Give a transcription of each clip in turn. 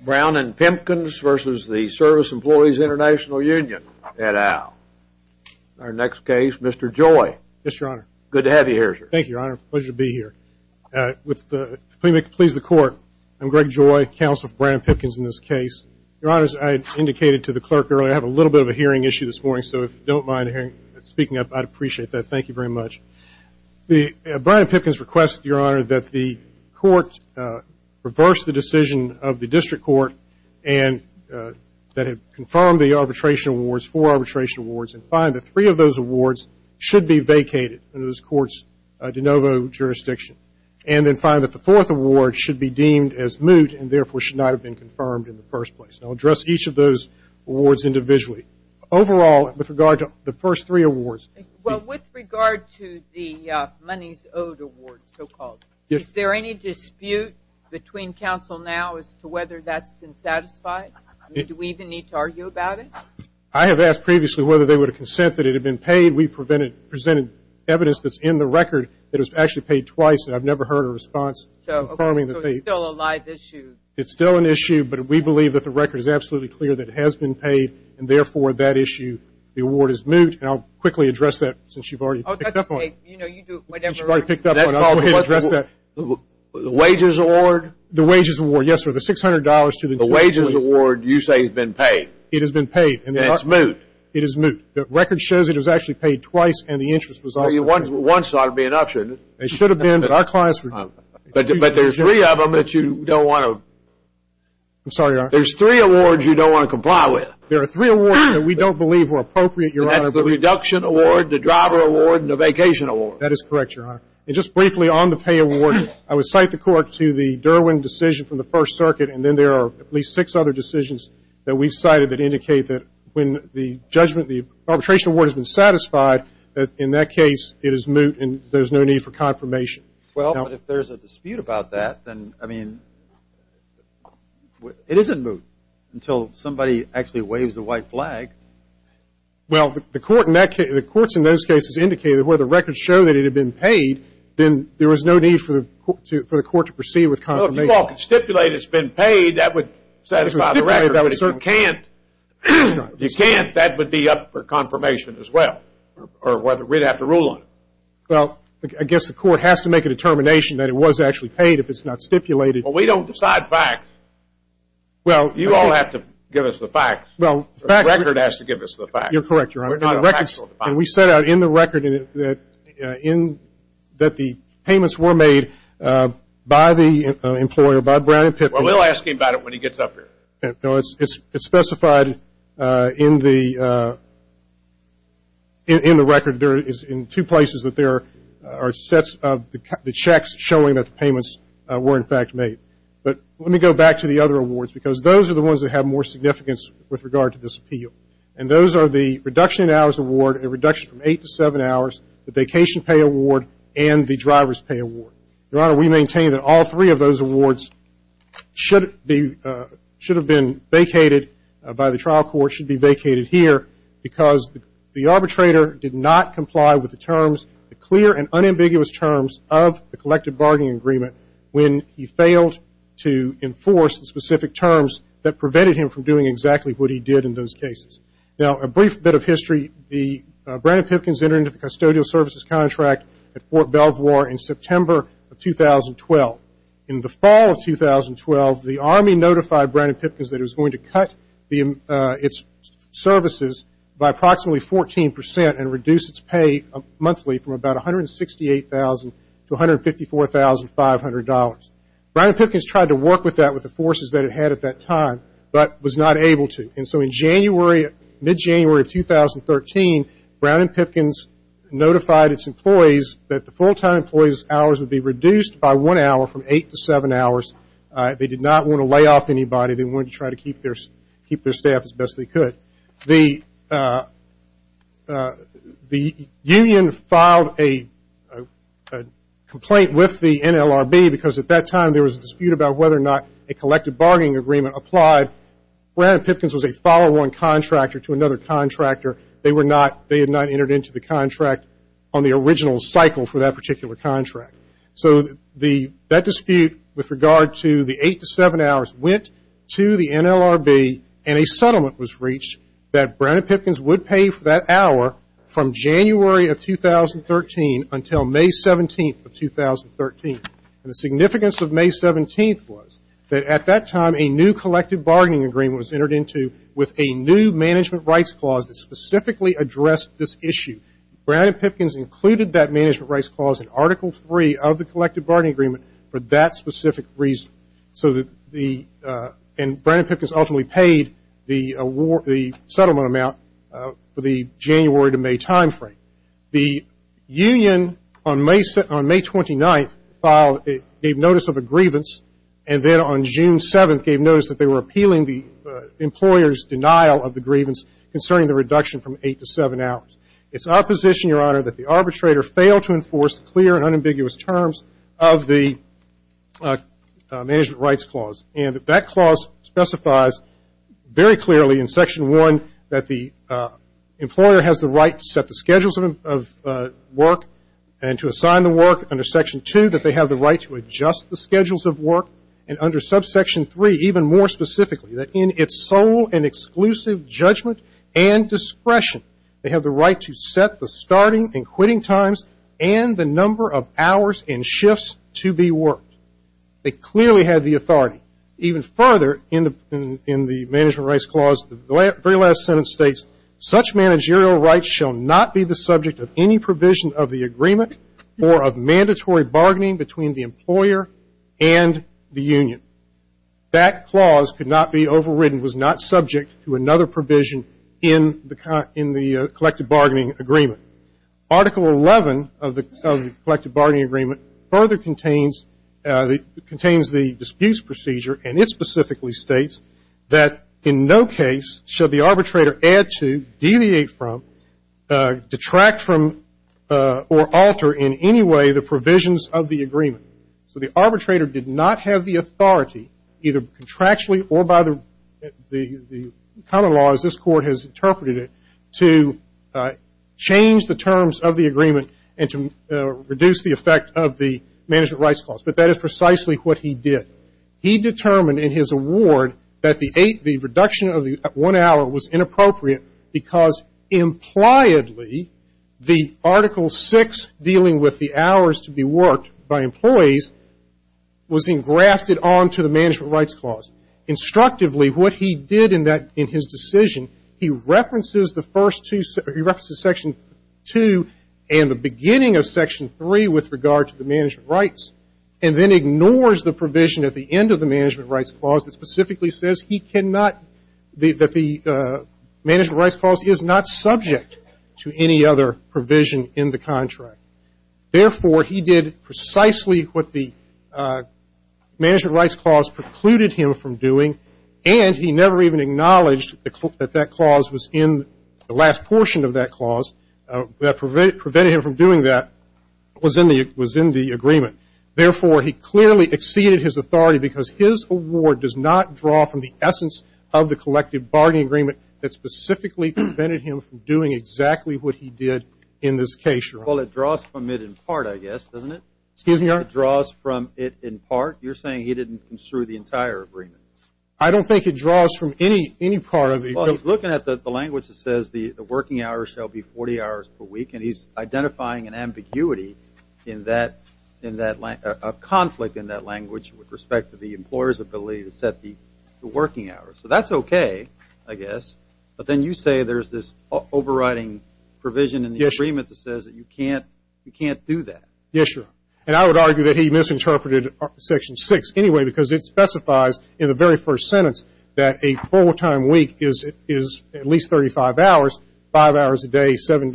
Brown & Pimpkins v. Service Employees Intl Union, et al. Our next case, Mr. Joy. Yes, Your Honor. Good to have you here, sir. Thank you, Your Honor. Pleasure to be here. With the plea to please the Court, I'm Greg Joy, counsel for Brian Pimpkins in this case. Your Honor, as I indicated to the clerk earlier, I have a little bit of a hearing issue this morning, so if you don't mind speaking up, I'd appreciate that. Thank you very much. Brian Pimpkins requests, Your Honor, that the Court reverse the decision of the District Court that had confirmed the arbitration awards, four arbitration awards, and find that three of those awards should be vacated under this Court's de novo jurisdiction, and then find that the fourth award should be deemed as moot and therefore should not have been confirmed in the first place. I'll address each of those awards individually. Overall, with regard to the first three awards. Well, with regard to the monies owed award, so-called, is there any dispute between counsel now as to whether that's been satisfied? Do we even need to argue about it? I have asked previously whether they would consent that it had been paid. We presented evidence that's in the record that it was actually paid twice, and I've never heard a response confirming that they. So it's still a live issue. It's still an issue, but we believe that the record is absolutely clear that it has been paid, and therefore that issue, the award is moot. And I'll quickly address that since you've already picked up on it. Oh, that's okay. You know, you do whatever. She's already picked up on it. I'll go ahead and address that. The wages award? The wages award, yes, sir. The $600 to the. The wages award you say has been paid. It has been paid. And it's moot. It is moot. The record shows it was actually paid twice, and the interest was. Well, once ought to be an option. It should have been, but our clients. But there's three of them that you don't want to. I'm sorry, Your Honor. There's three awards you don't want to comply with. There are three awards that we don't believe were appropriate, Your Honor. The reduction award, the driver award, and the vacation award. That is correct, Your Honor. And just briefly on the pay award, I would cite the court to the Derwin decision from the First Circuit, and then there are at least six other decisions that we've cited that indicate that when the judgment, the arbitration award has been satisfied, that in that case it is moot and there's no need for confirmation. Well, if there's a dispute about that, then, I mean, it isn't moot until somebody actually waves the white flag. Well, the courts in those cases indicated that where the records show that it had been paid, then there was no need for the court to proceed with confirmation. Well, if you all can stipulate it's been paid, that would satisfy the record. If you can't, that would be up for confirmation as well, or we'd have to rule on it. Well, I guess the court has to make a determination that it was actually paid if it's not stipulated. Well, we don't decide facts. You all have to give us the facts. The record has to give us the facts. You're correct, Your Honor. And we set out in the record that the payments were made by the employer, by Brown and Pitman. Well, we'll ask him about it when he gets up here. No, it's specified in the record. There is in two places that there are sets of the checks showing that the payments were, in fact, made. But let me go back to the other awards, because those are the ones that have more significance with regard to this appeal. And those are the reduction in hours award, a reduction from eight to seven hours, the vacation pay award, and the driver's pay award. Your Honor, we maintain that all three of those awards should have been vacated by the trial court, but they should be vacated here because the arbitrator did not comply with the terms, the clear and unambiguous terms of the collective bargaining agreement when he failed to enforce the specific terms that prevented him from doing exactly what he did in those cases. Now, a brief bit of history. Brandon Pipkins entered into the custodial services contract at Fort Belvoir in September of 2012. In the fall of 2012, the Army notified Brandon Pipkins that it was going to cut its services by approximately 14% and reduce its pay monthly from about $168,000 to $154,500. Brandon Pipkins tried to work with that with the forces that it had at that time, but was not able to. And so in January, mid-January of 2013, Brandon Pipkins notified its employees that the full-time employees' hours would be reduced by one hour from eight to seven hours. They did not want to lay off anybody. They wanted to try to keep their staff as best they could. The union filed a complaint with the NLRB because at that time there was a dispute about whether or not a collective bargaining agreement applied. Brandon Pipkins was a follow-on contractor to another contractor. They had not entered into the contract on the original cycle for that particular contract. So that dispute with regard to the eight to seven hours went to the NLRB, and a settlement was reached that Brandon Pipkins would pay for that hour from January of 2013 until May 17th of 2013. And the significance of May 17th was that at that time a new collective bargaining agreement was entered into with a new management rights clause that specifically addressed this issue. Brandon Pipkins included that management rights clause in Article 3 of the collective bargaining agreement for that specific reason. And Brandon Pipkins ultimately paid the settlement amount for the January to May timeframe. The union on May 29th gave notice of a grievance, and then on June 7th gave notice that they were appealing the employer's denial of the grievance concerning the reduction from eight to seven hours. It's our position, Your Honor, that the arbitrator failed to enforce clear and unambiguous terms of the management rights clause. And that clause specifies very clearly in Section 1 that the employer has the right to set the schedules of work and to assign the work under Section 2 that they have the right to adjust the schedules of work. And under Subsection 3, even more specifically, that in its sole and exclusive judgment and discretion, they have the right to set the starting and quitting times and the number of hours and shifts to be worked. They clearly had the authority. Even further in the management rights clause, the very last sentence states, such managerial rights shall not be the subject of any provision of the agreement or of mandatory bargaining between the employer and the union. That clause could not be overridden, was not subject to another provision in the collective bargaining agreement. Article 11 of the collective bargaining agreement further contains the disputes procedure, and it specifically states that in no case should the arbitrator add to, deviate from, detract from, or alter in any way the provisions of the agreement. So the arbitrator did not have the authority, either contractually or by the common law, as this Court has interpreted it, to change the terms of the agreement and to reduce the effect of the management rights clause. But that is precisely what he did. He determined in his award that the reduction of one hour was inappropriate because impliedly the Article 6 dealing with the hours to be worked by employees was engrafted onto the management rights clause. Instructively, what he did in his decision, he references the first two, he references Section 2 and the beginning of Section 3 with regard to the management rights and then ignores the provision at the end of the management rights clause that specifically says he cannot, that the management rights clause is not subject to any other provision in the contract. Therefore, he did precisely what the management rights clause precluded him from doing and he never even acknowledged that that clause was in the last portion of that clause that prevented him from doing that was in the agreement. Therefore, he clearly exceeded his authority because his award does not draw from the essence of the collective bargaining agreement that specifically prevented him from doing exactly what he did in this case. Well, it draws from it in part, I guess, doesn't it? Excuse me, Your Honor. It draws from it in part. You're saying he didn't construe the entire agreement. I don't think it draws from any part of the agreement. Well, he's looking at the language that says the working hours shall be 40 hours per week and he's identifying an ambiguity in that conflict in that language with respect to the employer's ability to set the working hours. So that's okay, I guess. But then you say there's this overriding provision in the agreement that says you can't do that. Yes, Your Honor. And I would argue that he misinterpreted Section 6 anyway because it specifies in the very first sentence that a full-time week is at least 35 hours, 5 hours a day, 7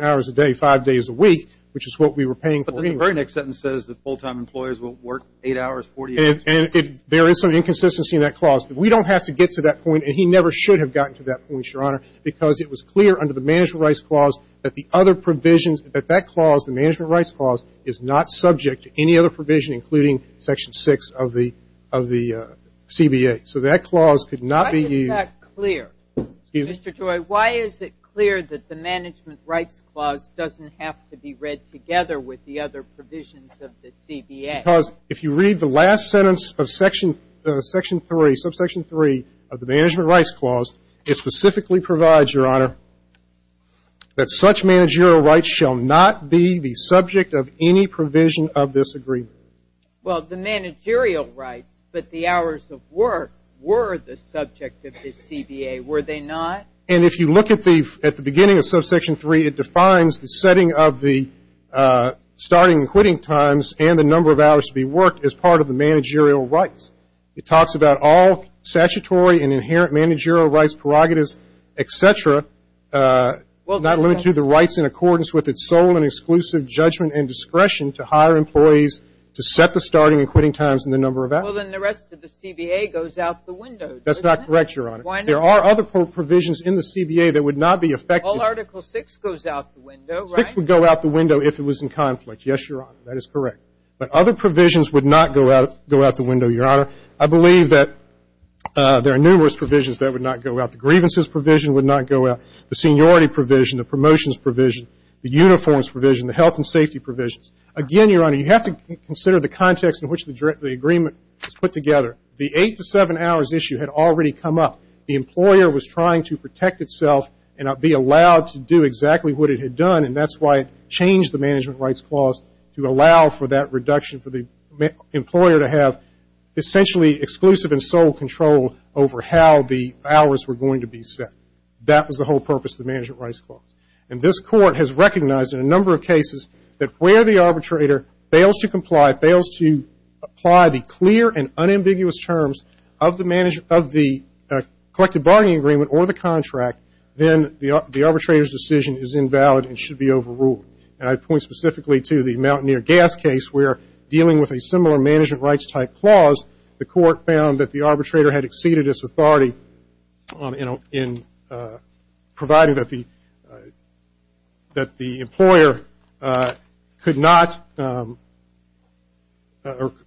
hours a day, 5 days a week, which is what we were paying for anyway. But the very next sentence says that full-time employers will work 8 hours, 48 hours. And there is some inconsistency in that clause. We don't have to get to that point, and he never should have gotten to that point, Your Honor, because it was clear under the Management Rights Clause that the other provisions, that that clause, the Management Rights Clause, is not subject to any other provision, including Section 6 of the CBA. So that clause could not be used. Why is that clear? Excuse me. Mr. Joy, why is it clear that the Management Rights Clause doesn't have to be read together with the other provisions of the CBA? Because if you read the last sentence of Section 3, subsection 3 of the Management Rights Clause, it specifically provides, Your Honor, that such managerial rights shall not be the subject of any provision of this agreement. Well, the managerial rights, but the hours of work, were the subject of the CBA, were they not? And if you look at the beginning of subsection 3, it defines the setting of the starting and quitting times and the number of hours to be worked as part of the managerial rights. It talks about all statutory and inherent managerial rights, prerogatives, et cetera, not limited to the rights in accordance with its sole and exclusive judgment and discretion to hire employees to set the starting and quitting times and the number of hours. Well, then the rest of the CBA goes out the window, does it not? That's not correct, Your Honor. Why not? There are other provisions in the CBA that would not be effective. Well, Article 6 goes out the window, right? 6 would go out the window if it was in conflict. Yes, Your Honor, that is correct. But other provisions would not go out the window, Your Honor. I believe that there are numerous provisions that would not go out. The grievances provision would not go out. The seniority provision, the promotions provision, the uniforms provision, the health and safety provisions. Again, Your Honor, you have to consider the context in which the agreement was put together. The 8 to 7 hours issue had already come up. The employer was trying to protect itself and be allowed to do exactly what it had done, and that's why it changed the management rights clause to allow for that reduction for the employer to have essentially exclusive and sole control over how the hours were going to be set. That was the whole purpose of the management rights clause. And this Court has recognized in a number of cases that where the arbitrator fails to comply, fails to apply the clear and unambiguous terms of the collective bargaining agreement or the contract, then the arbitrator's decision is invalid and should be overruled. And I point specifically to the Mountaineer Gas case where, dealing with a similar management rights type clause, the Court found that the arbitrator had exceeded its authority in providing that the employer could not or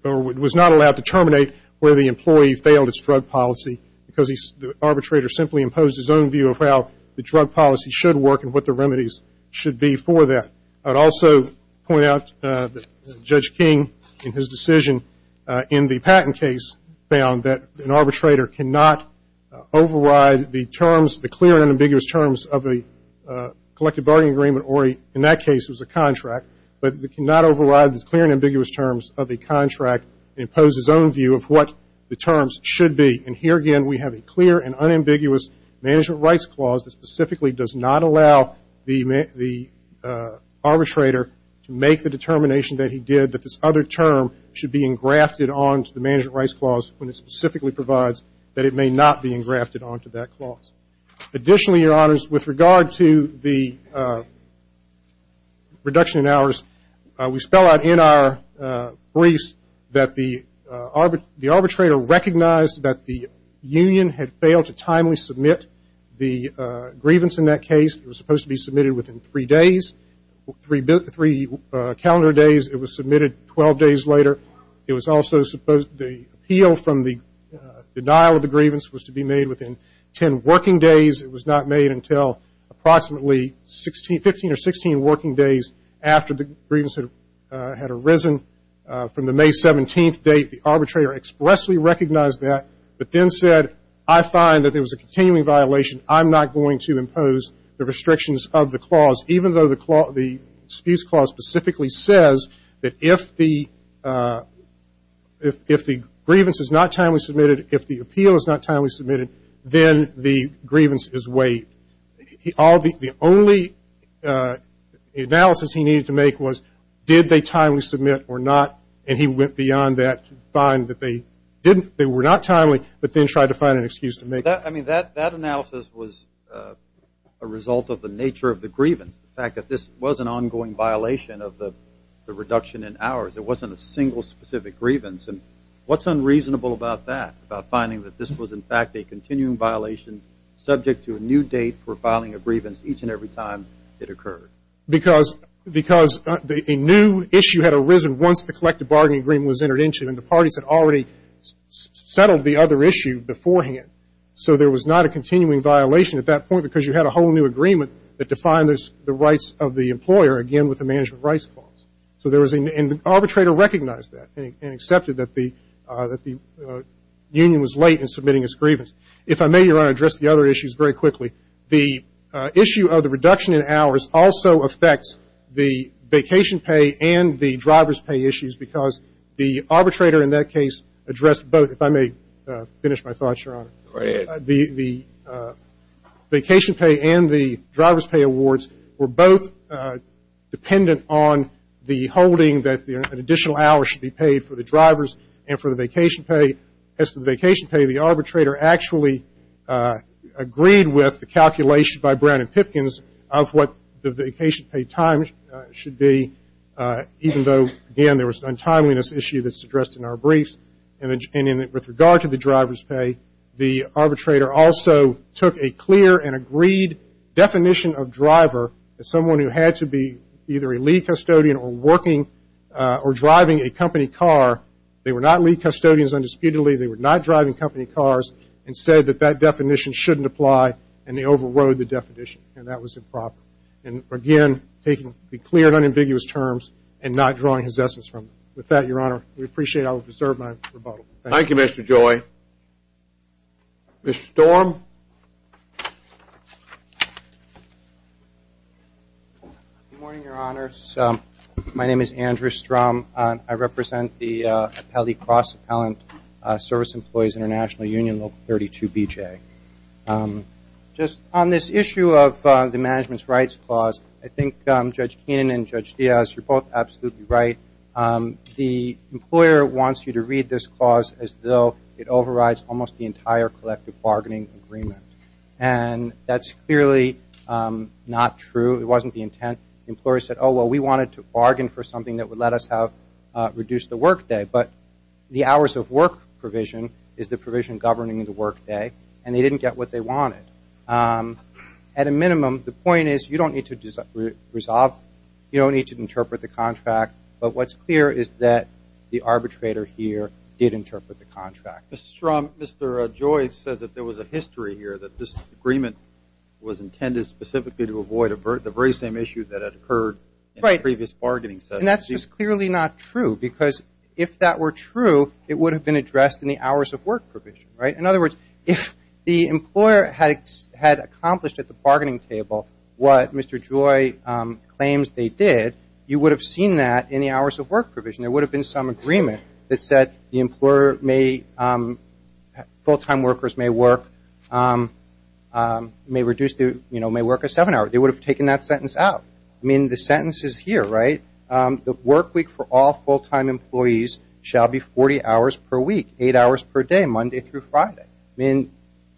was not allowed to terminate where the employee failed its drug policy because the arbitrator simply imposed his own view of how the drug policy should work and what the remedies should be for that. I would also point out that Judge King, in his decision in the Patton case, found that an arbitrator cannot override the terms, the clear and unambiguous terms of a collective bargaining agreement or, in that case, it was a contract, but cannot override the clear and ambiguous terms of a contract and impose his own view of what the terms should be. And here again, we have a clear and unambiguous management rights clause that specifically does not allow the arbitrator to make the determination that he did, that this other term should be engrafted onto the management rights clause when it specifically provides that it may not be engrafted onto that clause. Additionally, Your Honors, with regard to the reduction in hours, we spell out in our briefs that the arbitrator recognized that the union had failed to timely submit the grievance in that case. It was supposed to be submitted within three days, three calendar days. It was submitted 12 days later. It was also supposed the appeal from the denial of the grievance was to be made within 10 working days. It was not made until approximately 15 or 16 working days after the grievance had arisen. From the May 17th date, the arbitrator expressly recognized that, but then said, I find that there was a continuing violation. I'm not going to impose the restrictions of the clause, even though the spuse clause specifically says that if the grievance is not timely submitted, if the appeal is not timely submitted, then the grievance is waived. The only analysis he needed to make was did they timely submit or not, and he went beyond that to find that they were not timely, but then tried to find an excuse to make it. I mean, that analysis was a result of the nature of the grievance, the fact that this was an ongoing violation of the reduction in hours. It wasn't a single specific grievance. And what's unreasonable about that, about finding that this was, in fact, a continuing violation subject to a new date for filing a grievance each and every time it occurred? Because a new issue had arisen once the collective bargaining agreement was entered into, and the parties had already settled the other issue beforehand, so there was not a continuing violation at that point because you had a whole new agreement that defined the rights of the employer, again, with the management rights clause. And the arbitrator recognized that and accepted that the union was late in submitting its grievance. If I may, Your Honor, address the other issues very quickly. The issue of the reduction in hours also affects the vacation pay and the driver's pay issues because the arbitrator in that case addressed both. If I may finish my thoughts, Your Honor. Go ahead. The vacation pay and the driver's pay awards were both dependent on the holding that an additional hour should be paid for the drivers and for the vacation pay. As to the vacation pay, the arbitrator actually agreed with the calculation by Brown and Pipkins of what the vacation pay time should be, even though, again, there was an untimeliness issue that's addressed in our briefs. And with regard to the driver's pay, the arbitrator also took a clear and agreed definition of driver as someone who had to be either a lead custodian or working or driving a company car. They were not lead custodians undisputedly. They were not driving company cars and said that that definition shouldn't apply, and they overrode the definition, and that was improper. And, again, taking the clear and unambiguous terms and not drawing his essence from it. With that, Your Honor, we appreciate it. I'll reserve my rebuttal. Thank you. Thank you, Mr. Joy. Mr. Storm? Good morning, Your Honors. My name is Andrew Strom. I represent the Cross Appellant Service Employees International Union, Local 32BJ. Just on this issue of the management's rights clause, I think Judge Keenan and Judge Diaz, you're both absolutely right. The employer wants you to read this clause as though it overrides almost the entire collective bargaining agreement, and that's clearly not true. It wasn't the intent. The employer said, oh, well, we wanted to bargain for something that would let us have reduced the workday, but the hours of work provision is the provision governing the workday, and they didn't get what they wanted. At a minimum, the point is you don't need to resolve, you don't need to interpret the contract, but what's clear is that the arbitrator here did interpret the contract. Mr. Strom, Mr. Joy said that there was a history here that this agreement was intended specifically to avoid the very same issue that had occurred in the previous bargaining session. And that's just clearly not true because if that were true, it would have been addressed in the hours of work provision, right? In other words, if the employer had accomplished at the bargaining table what Mr. Joy claims they did, you would have seen that in the hours of work provision. There would have been some agreement that said the employer may, full-time workers may work, may work a seven-hour. They would have taken that sentence out. I mean, the sentence is here, right? The work week for all full-time employees shall be 40 hours per week, eight hours per day, Monday through Friday. I mean,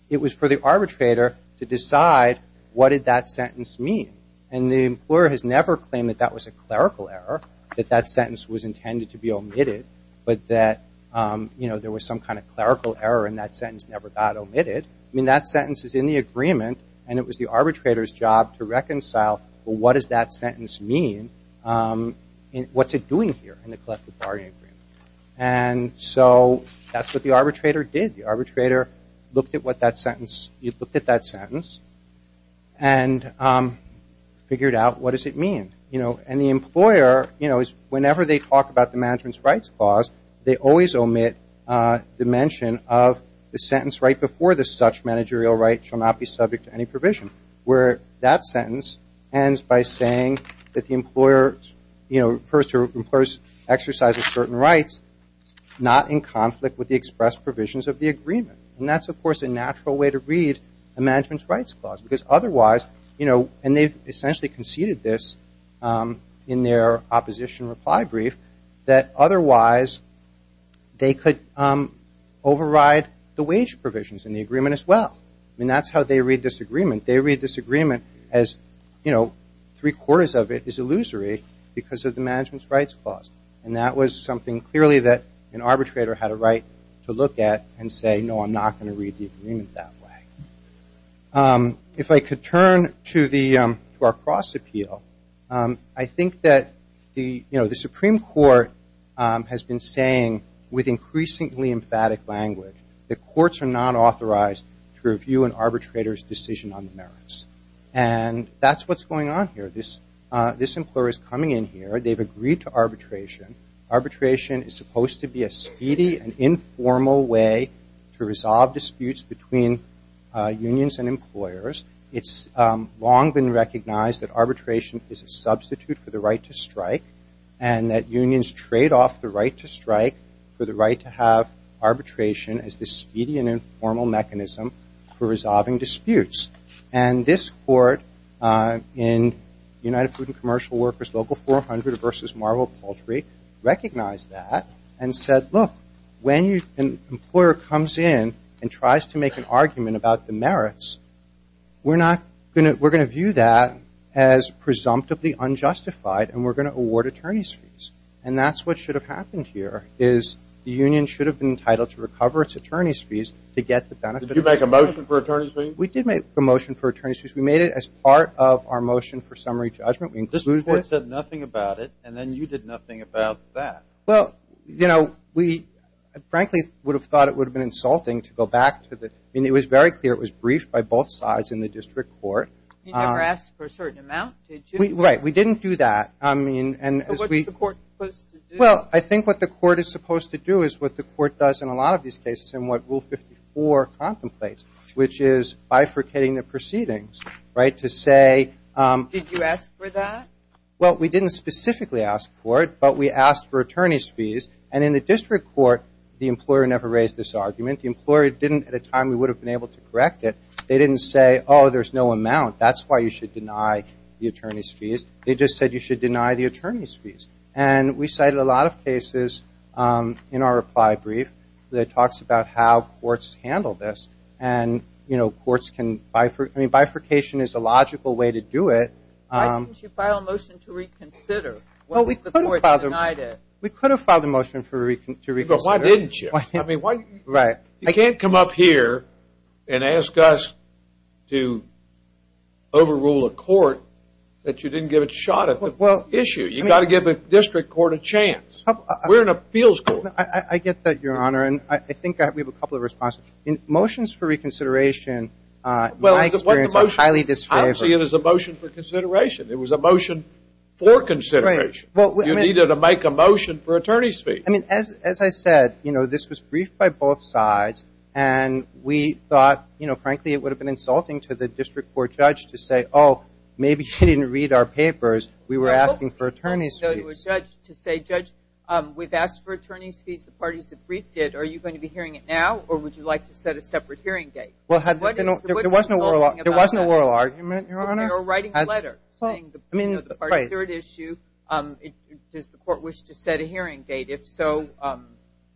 it was for the arbitrator to decide what did that sentence mean. And the employer has never claimed that that was a clerical error, that that sentence was intended to be omitted, but that there was some kind of clerical error and that sentence never got omitted. I mean, that sentence is in the agreement and it was the arbitrator's job to reconcile what does that sentence mean and what's it doing here in the collective bargaining agreement. And so that's what the arbitrator did. The arbitrator looked at what that sentence, looked at that sentence and figured out what does it mean. And the employer, whenever they talk about the management's rights clause, they always omit the mention of the sentence right before this, such managerial rights shall not be subject to any provision, where that sentence ends by saying that the employer, you know, refers to employers exercising certain rights not in conflict with the expressed provisions of the agreement. And that's, of course, a natural way to read a management's rights clause because otherwise, you know, and they've essentially conceded this in their opposition reply brief, that otherwise they could override the wage provisions in the agreement as well. I mean, that's how they read this agreement. They read this agreement as, you know, three-quarters of it is illusory because of the management's rights clause. And that was something clearly that an arbitrator had a right to look at and say, no, I'm not going to read the agreement that way. If I could turn to our cross appeal, I think that, you know, the Supreme Court has been saying with increasingly emphatic language that And that's what's going on here. This employer is coming in here. They've agreed to arbitration. Arbitration is supposed to be a speedy and informal way to resolve disputes between unions and employers. It's long been recognized that arbitration is a substitute for the right to strike and that unions trade off the right to strike for the right to have And this court in United Food and Commercial Workers Local 400 versus Marble Poultry recognized that and said, look, when an employer comes in and tries to make an argument about the merits, we're going to view that as presumptively unjustified and we're going to award attorney's fees. And that's what should have happened here is the union should have been entitled to recover its attorney's fees to get the benefit of that. Did you make a motion for attorney's fees? We did make a motion for attorney's fees. We made it as part of our motion for summary judgment. This court said nothing about it, and then you did nothing about that. Well, you know, we frankly would have thought it would have been insulting to go back to the – I mean, it was very clear it was briefed by both sides in the district court. You never asked for a certain amount, did you? Right. We didn't do that. I mean, and as we – What's the court supposed to do? Well, I think what the court is supposed to do is what the court does in a lot of these cases and what Rule 54 contemplates, which is bifurcating the proceedings, right, to say – Did you ask for that? Well, we didn't specifically ask for it, but we asked for attorney's fees. And in the district court, the employer never raised this argument. The employer didn't at a time we would have been able to correct it. They didn't say, oh, there's no amount. That's why you should deny the attorney's fees. They just said you should deny the attorney's fees. And we cited a lot of cases in our reply brief. It talks about how courts handle this. And, you know, courts can – I mean, bifurcation is a logical way to do it. Why didn't you file a motion to reconsider? Well, we could have filed a motion to reconsider. But why didn't you? Right. You can't come up here and ask us to overrule a court that you didn't give a shot at the issue. You've got to give a district court a chance. We're an appeals court. I get that, Your Honor. And I think we have a couple of responses. Motions for reconsideration, in my experience, are highly disfavored. I don't see it as a motion for consideration. It was a motion for consideration. Right. You needed to make a motion for attorney's fees. I mean, as I said, you know, this was briefed by both sides. And we thought, you know, frankly, it would have been insulting to the district court judge to say, oh, maybe she didn't read our papers. We were asking for attorney's fees. Judge, we've asked for attorney's fees. The parties have briefed it. Are you going to be hearing it now, or would you like to set a separate hearing date? There was no oral argument, Your Honor. Or writing a letter saying the third issue, does the court wish to set a hearing date? If so,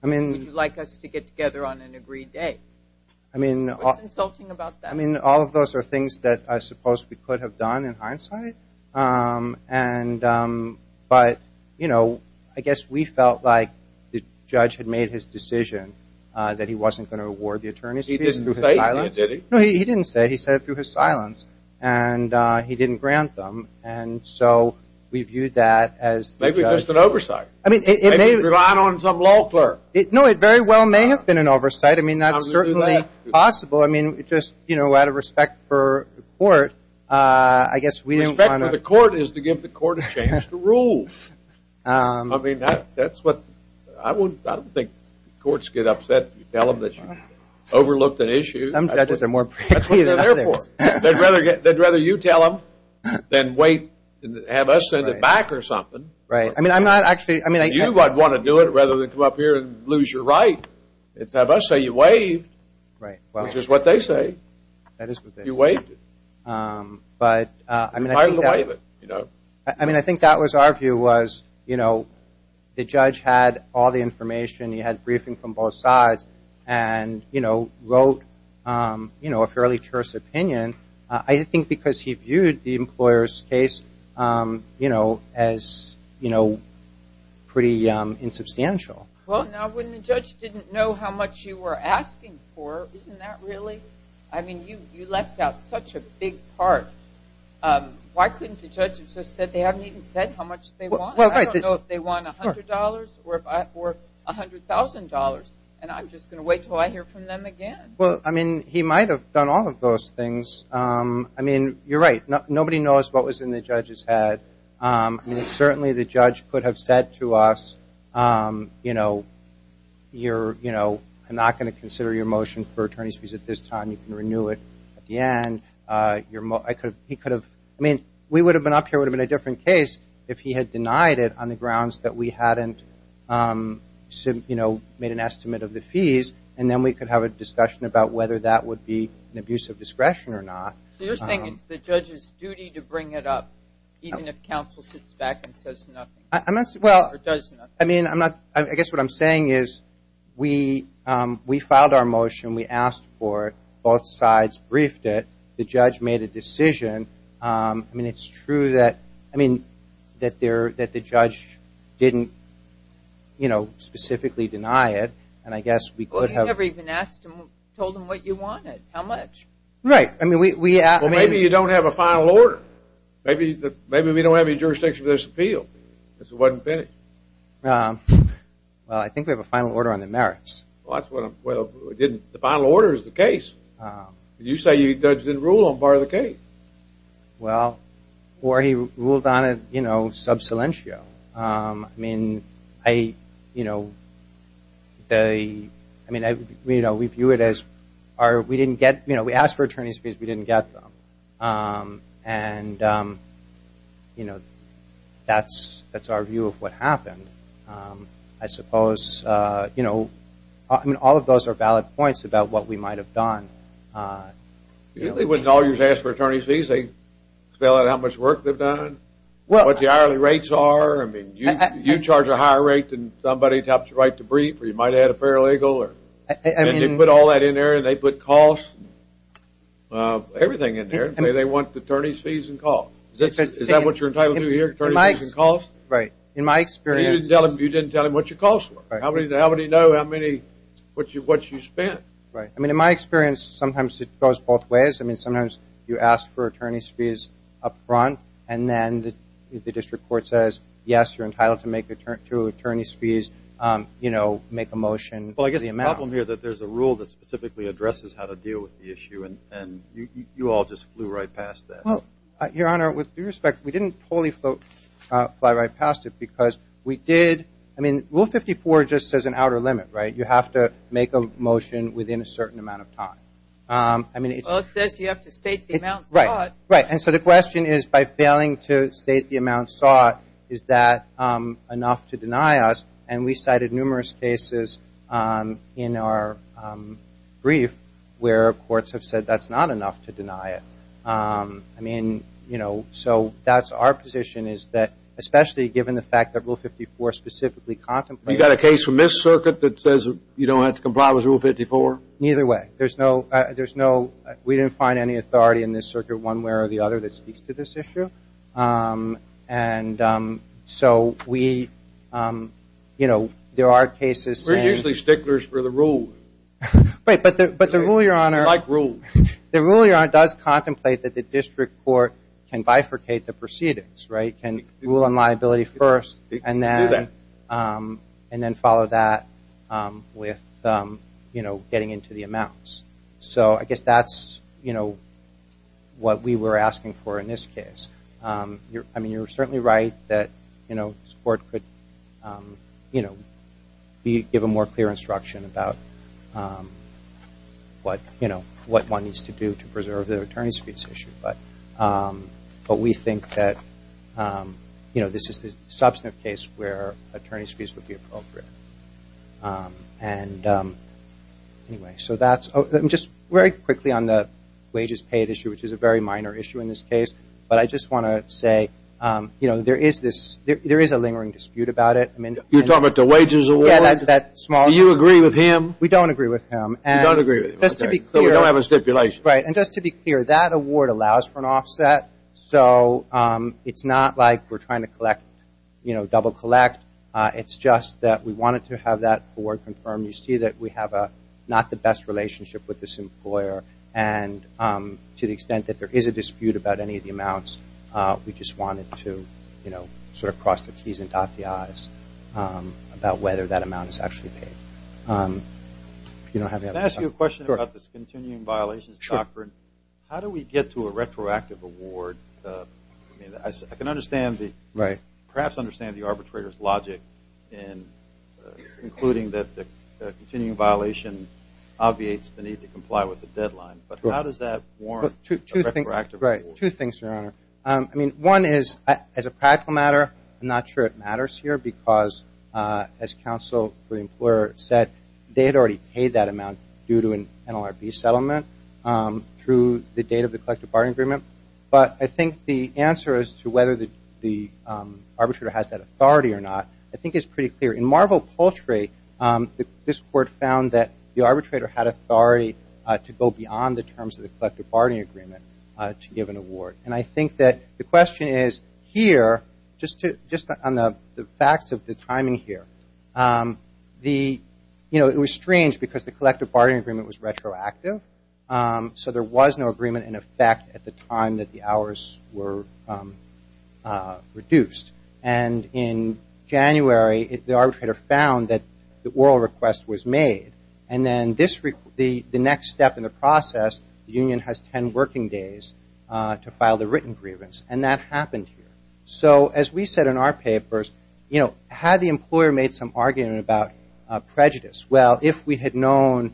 would you like us to get together on an agreed date? What's insulting about that? I mean, all of those are things that I suppose we could have done in hindsight. But, you know, I guess we felt like the judge had made his decision that he wasn't going to award the attorney's fees through his silence. No, he didn't say it. He said it through his silence. And he didn't grant them. And so we viewed that as the judge. Maybe it was an oversight. Maybe he relied on some law clerk. No, it very well may have been an oversight. I mean, that's certainly possible. I mean, just, you know, out of respect for the court, I guess we didn't want to. Respect for the court is to give the court a chance to rule. I mean, that's what. I don't think courts get upset. You tell them that you overlooked an issue. Some judges are more prickly than others. That's what they're there for. They'd rather you tell them than wait and have us send it back or something. Right. I mean, I'm not actually. You might want to do it rather than come up here and lose your right. Let's have us say you waived. Right. Which is what they say. You waived it. But, I mean, I think that was our view was, you know, the judge had all the information. He had briefing from both sides and, you know, wrote, you know, a fairly truthful opinion. I think because he viewed the employer's case, you know, as, you know, pretty insubstantial. Well, now when the judge didn't know how much you were asking for, isn't that really? I mean, you left out such a big part. Why couldn't the judge have just said they haven't even said how much they want? I don't know if they want $100 or $100,000, and I'm just going to wait until I hear from them again. Well, I mean, he might have done all of those things. I mean, you're right. Nobody knows what was in the judge's head. I mean, certainly the judge could have said to us, you know, I'm not going to consider your motion for attorney's fees at this time. You can renew it at the end. I mean, we would have been up here, it would have been a different case, if he had denied it on the grounds that we hadn't, you know, made an estimate of the fees, and then we could have a discussion about whether that would be an abuse of discretion or not. So you're saying it's the judge's duty to bring it up, even if counsel sits back and says nothing or does nothing? I mean, I'm not – I guess what I'm saying is we filed our motion, we asked for it, both sides briefed it, the judge made a decision. I mean, it's true that – I mean, that the judge didn't, you know, specifically deny it, and I guess we could have – Well, you never even asked him, told him what you wanted, how much. Right. Well, maybe you don't have a final order. Maybe we don't have any jurisdiction for this appeal because it wasn't finished. Well, I think we have a final order on the merits. Well, that's what I'm – well, it didn't – the final order is the case. You say the judge didn't rule on part of the case. Well, or he ruled on it, you know, sub silentio. I mean, I, you know, the – I mean, you know, we view it as our – we didn't get – you know, we asked for attorney's fees, we didn't get them. And, you know, that's our view of what happened. I suppose, you know, I mean, all of those are valid points about what we might have done. You wouldn't always ask for attorney's fees. They spell out how much work they've done, what the hourly rates are. I mean, you charge a higher rate than somebody to have the right to brief or you might have had a paralegal or – Everything in there. They want attorney's fees and cost. Is that what you're entitled to here, attorney's fees and cost? Right. In my experience – You didn't tell him what your costs were. How would he know how many – what you spent? Right. I mean, in my experience, sometimes it goes both ways. I mean, sometimes you ask for attorney's fees up front and then the district court says, yes, you're entitled to attorney's fees, you know, make a motion for the amount. There's a problem here that there's a rule that specifically addresses how to deal with the issue, and you all just flew right past that. Well, Your Honor, with due respect, we didn't totally fly right past it because we did – I mean, Rule 54 just says an outer limit, right? You have to make a motion within a certain amount of time. Well, it says you have to state the amount sought. Right, right. And so the question is, by failing to state the amount sought, is that enough to deny us? And we cited numerous cases in our brief where courts have said that's not enough to deny it. I mean, you know, so that's our position is that, especially given the fact that Rule 54 specifically contemplates – You got a case from this circuit that says you don't have to comply with Rule 54? Neither way. There's no – we didn't find any authority in this circuit one way or the other that speaks to this issue. And so we – you know, there are cases saying – We're usually sticklers for the rules. Right, but the rule, Your Honor – We like rules. The rule, Your Honor, does contemplate that the district court can bifurcate the proceedings, right, can rule on liability first and then follow that with, you know, getting into the amounts. So I guess that's, you know, what we were asking for in this case. I mean, you're certainly right that, you know, this court could, you know, give a more clear instruction about what, you know, what one needs to do to preserve the attorney's fees issue. But we think that, you know, this is the substantive case where attorney's fees would be appropriate. And anyway, so that's – just very quickly on the wages paid issue, which is a very minor issue in this case. But I just want to say, you know, there is this – there is a lingering dispute about it. You're talking about the wages award? Yeah, that small – Do you agree with him? We don't agree with him. You don't agree with him. Just to be clear – So we don't have a stipulation. Right, and just to be clear, that award allows for an offset. So it's not like we're trying to collect, you know, double collect. It's just that we wanted to have that award confirmed. You see that we have not the best relationship with this employer. And to the extent that there is a dispute about any of the amounts, we just wanted to, you know, sort of cross the Ts and dot the Is about whether that amount is actually paid. If you don't have any other – Can I ask you a question about this continuing violations doctrine? Sure. How do we get to a retroactive award? I mean, I can understand the – Right. I can understand the logic in concluding that the continuing violation obviates the need to comply with the deadline. But how does that warrant a retroactive award? Right. Two things, Your Honor. I mean, one is, as a practical matter, I'm not sure it matters here because, as counsel for the employer said, they had already paid that amount due to an NLRB settlement through the date of the collective bargaining agreement. But I think the answer as to whether the arbitrator has that authority or not I think is pretty clear. In Marvel Poultry, this court found that the arbitrator had authority to go beyond the terms of the collective bargaining agreement to give an award. And I think that the question is, here, just on the facts of the timing here, the – you know, it was strange because the collective bargaining agreement was retroactive, so there was no agreement in effect at the time that the hours were reduced. And in January, the arbitrator found that the oral request was made. And then this – the next step in the process, the union has 10 working days to file the written grievance. And that happened here. So, as we said in our papers, you know, had the employer made some argument about prejudice? Well, if we had known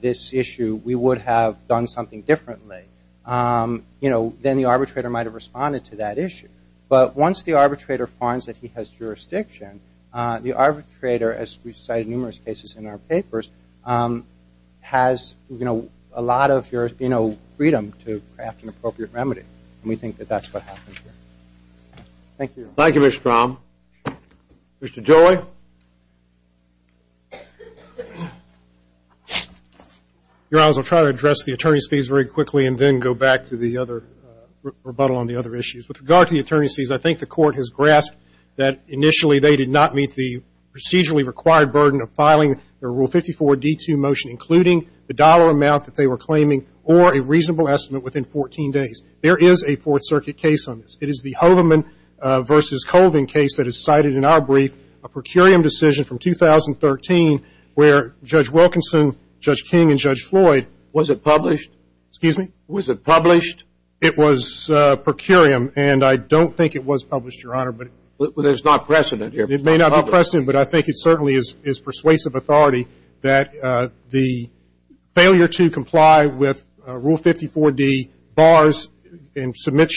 this issue, we would have done something differently. You know, then the arbitrator might have responded to that issue. But once the arbitrator finds that he has jurisdiction, the arbitrator, as we cite in numerous cases in our papers, has, you know, a lot of, you know, freedom to craft an appropriate remedy. And we think that that's what happened here. Thank you. Thank you, Mr. Strom. Mr. Joey. Your Honors, I'll try to address the attorney's fees very quickly and then go back to the other – rebuttal on the other issues. With regard to the attorney's fees, I think the Court has grasped that initially they did not meet the procedurally required burden of filing the Rule 54 D2 motion, including the dollar amount that they were claiming or a reasonable estimate within 14 days. There is a Fourth Circuit case on this. It is the Hoveman v. Colvin case that is cited in our brief, a per curiam decision from 2013, where Judge Wilkinson, Judge King, and Judge Floyd – Was it published? Excuse me? Was it published? It was per curiam, and I don't think it was published, Your Honor. Well, there's not precedent here. It may not be precedent, but I think it certainly is persuasive authority that the failure to comply with Rule 54 D bars and submit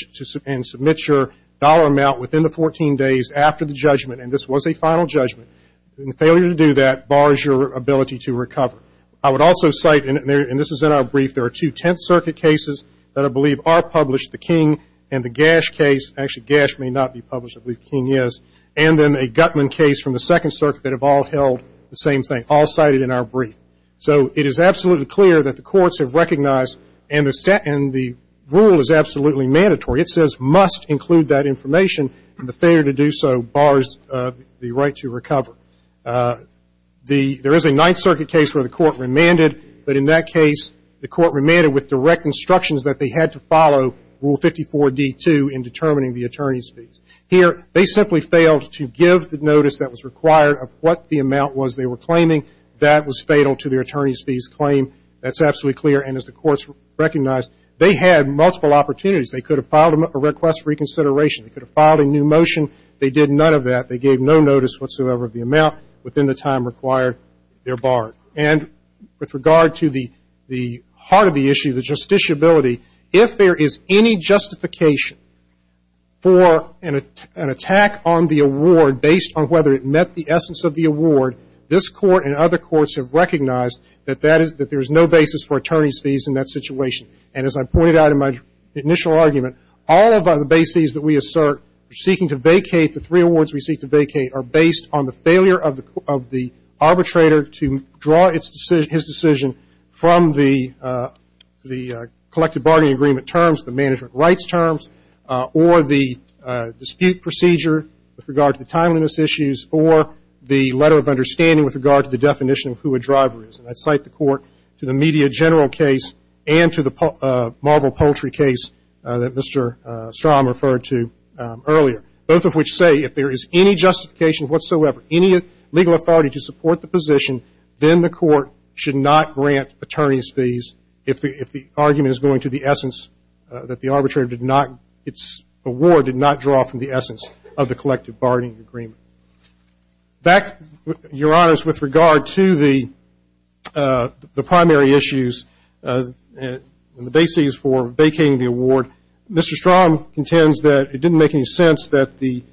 your dollar amount within the 14 days after the judgment, and this was a final judgment, and the failure to do that bars your ability to recover. I would also cite, and this is in our brief, there are two Tenth Circuit cases that I believe are published, the King and the Gash case. Actually, Gash may not be published. I believe King is. And then a Gutman case from the Second Circuit that have all held the same thing, all cited in our brief. So it is absolutely clear that the courts have recognized, and the rule is absolutely mandatory. It says must include that information, and the failure to do so bars the right to recover. There is a Ninth Circuit case where the court remanded, but in that case, the court remanded with direct instructions that they had to follow Rule 54 D2 in determining the attorney's fees. Here, they simply failed to give the notice that was required of what the amount was they were claiming. That was fatal to their attorney's fees claim. That's absolutely clear, and as the courts recognized, they had multiple opportunities. They could have filed a request for reconsideration. They could have filed a new motion. They did none of that. They gave no notice whatsoever of the amount within the time required. They're barred. And with regard to the heart of the issue, the justiciability, if there is any justification for an attack on the award based on whether it met the essence of the award, this court and other courts have recognized that there is no basis for attorney's fees in that situation. And as I pointed out in my initial argument, all of the bases that we assert seeking to vacate, the three awards we seek to vacate are based on the failure of the arbitrator to draw his decision from the collective bargaining agreement terms, the management rights terms, or the dispute procedure with regard to the timeliness issues, or the letter of understanding with regard to the definition of who a driver is. And I cite the court to the media general case and to the Marvel Poultry case that Mr. Strom referred to earlier, both of which say if there is any justification whatsoever, any legal authority to support the position, then the court should not grant attorney's fees if the argument is going to the essence that the arbitrator did not draw from the essence of the collective bargaining agreement. Back, Your Honors, with regard to the primary issues and the bases for vacating the award, Mr. Strom contends that it didn't make any sense that the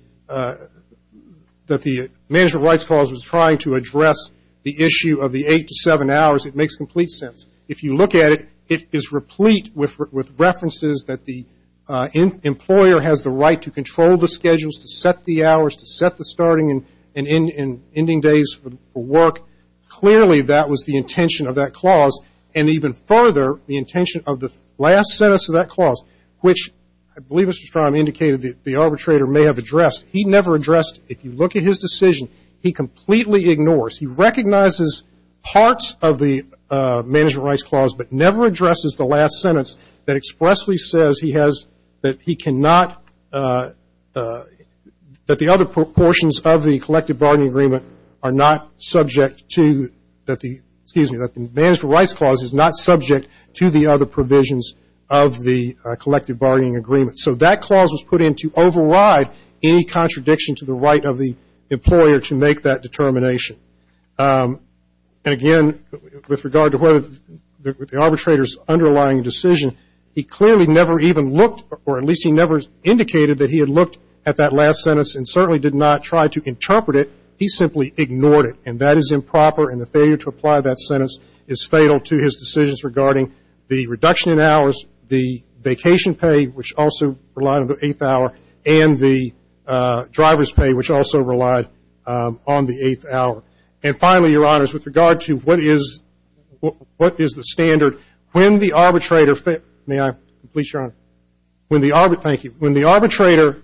management rights clause was trying to address the issue of the eight to seven hours. It makes complete sense. If you look at it, it is replete with references that the employer has the right to control the schedules, to set the hours, to set the starting and ending days for work. Clearly, that was the intention of that clause. And even further, the intention of the last sentence of that clause, which I believe Mr. Strom indicated the arbitrator may have addressed, he never addressed. If you look at his decision, he completely ignores. He recognizes parts of the management rights clause, but never addresses the last sentence that expressly says he has, that he cannot, that the other proportions of the collective bargaining agreement are not subject to, that the, excuse me, that the management rights clause is not subject to the other provisions of the collective bargaining agreement. So that clause was put in to override any contradiction to the right of the employer to make that determination. And again, with regard to whether the arbitrator's underlying decision, he clearly never even looked, or at least he never indicated that he had looked at that last sentence and certainly did not try to interpret it. He simply ignored it. And that is improper, and the failure to apply that sentence is fatal to his decisions regarding the reduction in hours, the vacation pay, which also relied on the eighth hour, and the driver's pay, which also relied on the eighth hour. And finally, Your Honors, with regard to what is the standard, when the arbitrator, may I, please, Your Honor, when the, thank you, when the arbitrator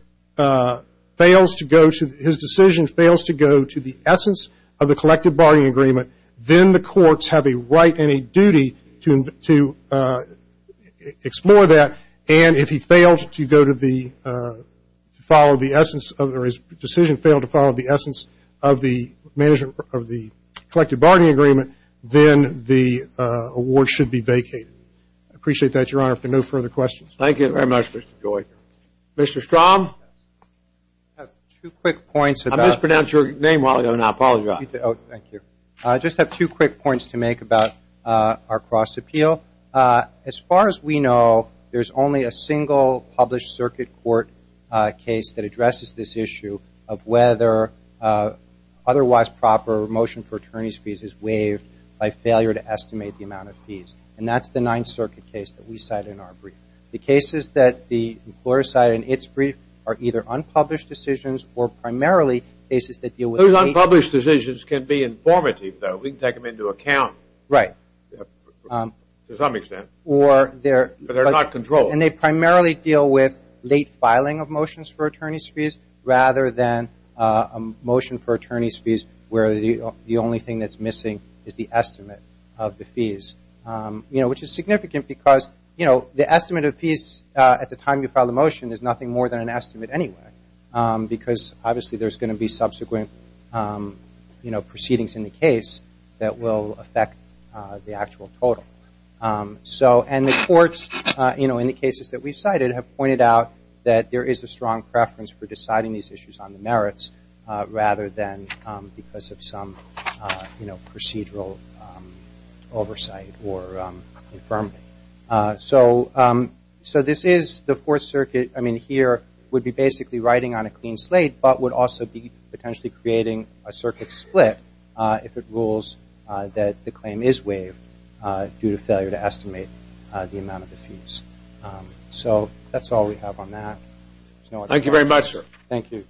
fails to go to, his decision fails to go to the essence of the collective bargaining agreement, then the courts have a right and a duty to explore that. And if he fails to go to the, follow the essence, or his decision failed to follow the essence of the management of the collective bargaining agreement, then the award should be vacated. I appreciate that, Your Honor, for no further questions. Thank you very much, Mr. Joy. Mr. Strom? I have two quick points about. I mispronounced your name a while ago, and I apologize. Oh, thank you. I just have two quick points to make about our cross-appeal. As far as we know, there's only a single published circuit court case that addresses this issue of whether otherwise proper or motion for attorney's fees is waived by failure to estimate the amount of fees. And that's the Ninth Circuit case that we cite in our brief. The cases that the employer cited in its brief are either unpublished decisions or primarily cases that deal with. Unpublished decisions can be informative, though. We can take them into account. Right. To some extent. Or they're. But they're not controlled. And they primarily deal with late filing of motions for attorney's fees rather than a motion for attorney's fees where the only thing that's missing is the estimate of the fees, you know, which is significant because, you know, the estimate of fees at the time you file the motion is nothing more than an estimate anyway because obviously there's going to be subsequent, you know, proceedings in the case that will affect the actual total. So and the courts, you know, in the cases that we've cited have pointed out that there is a strong preference for deciding these issues on the merits rather than because of some, you know, procedural oversight or infirmity. So this is the fourth circuit. I mean, here would be basically writing on a clean slate, but would also be potentially creating a circuit split if it rules that the claim is waived due to failure to estimate the amount of the fees. So that's all we have on that. Thank you very much, sir. Thank you.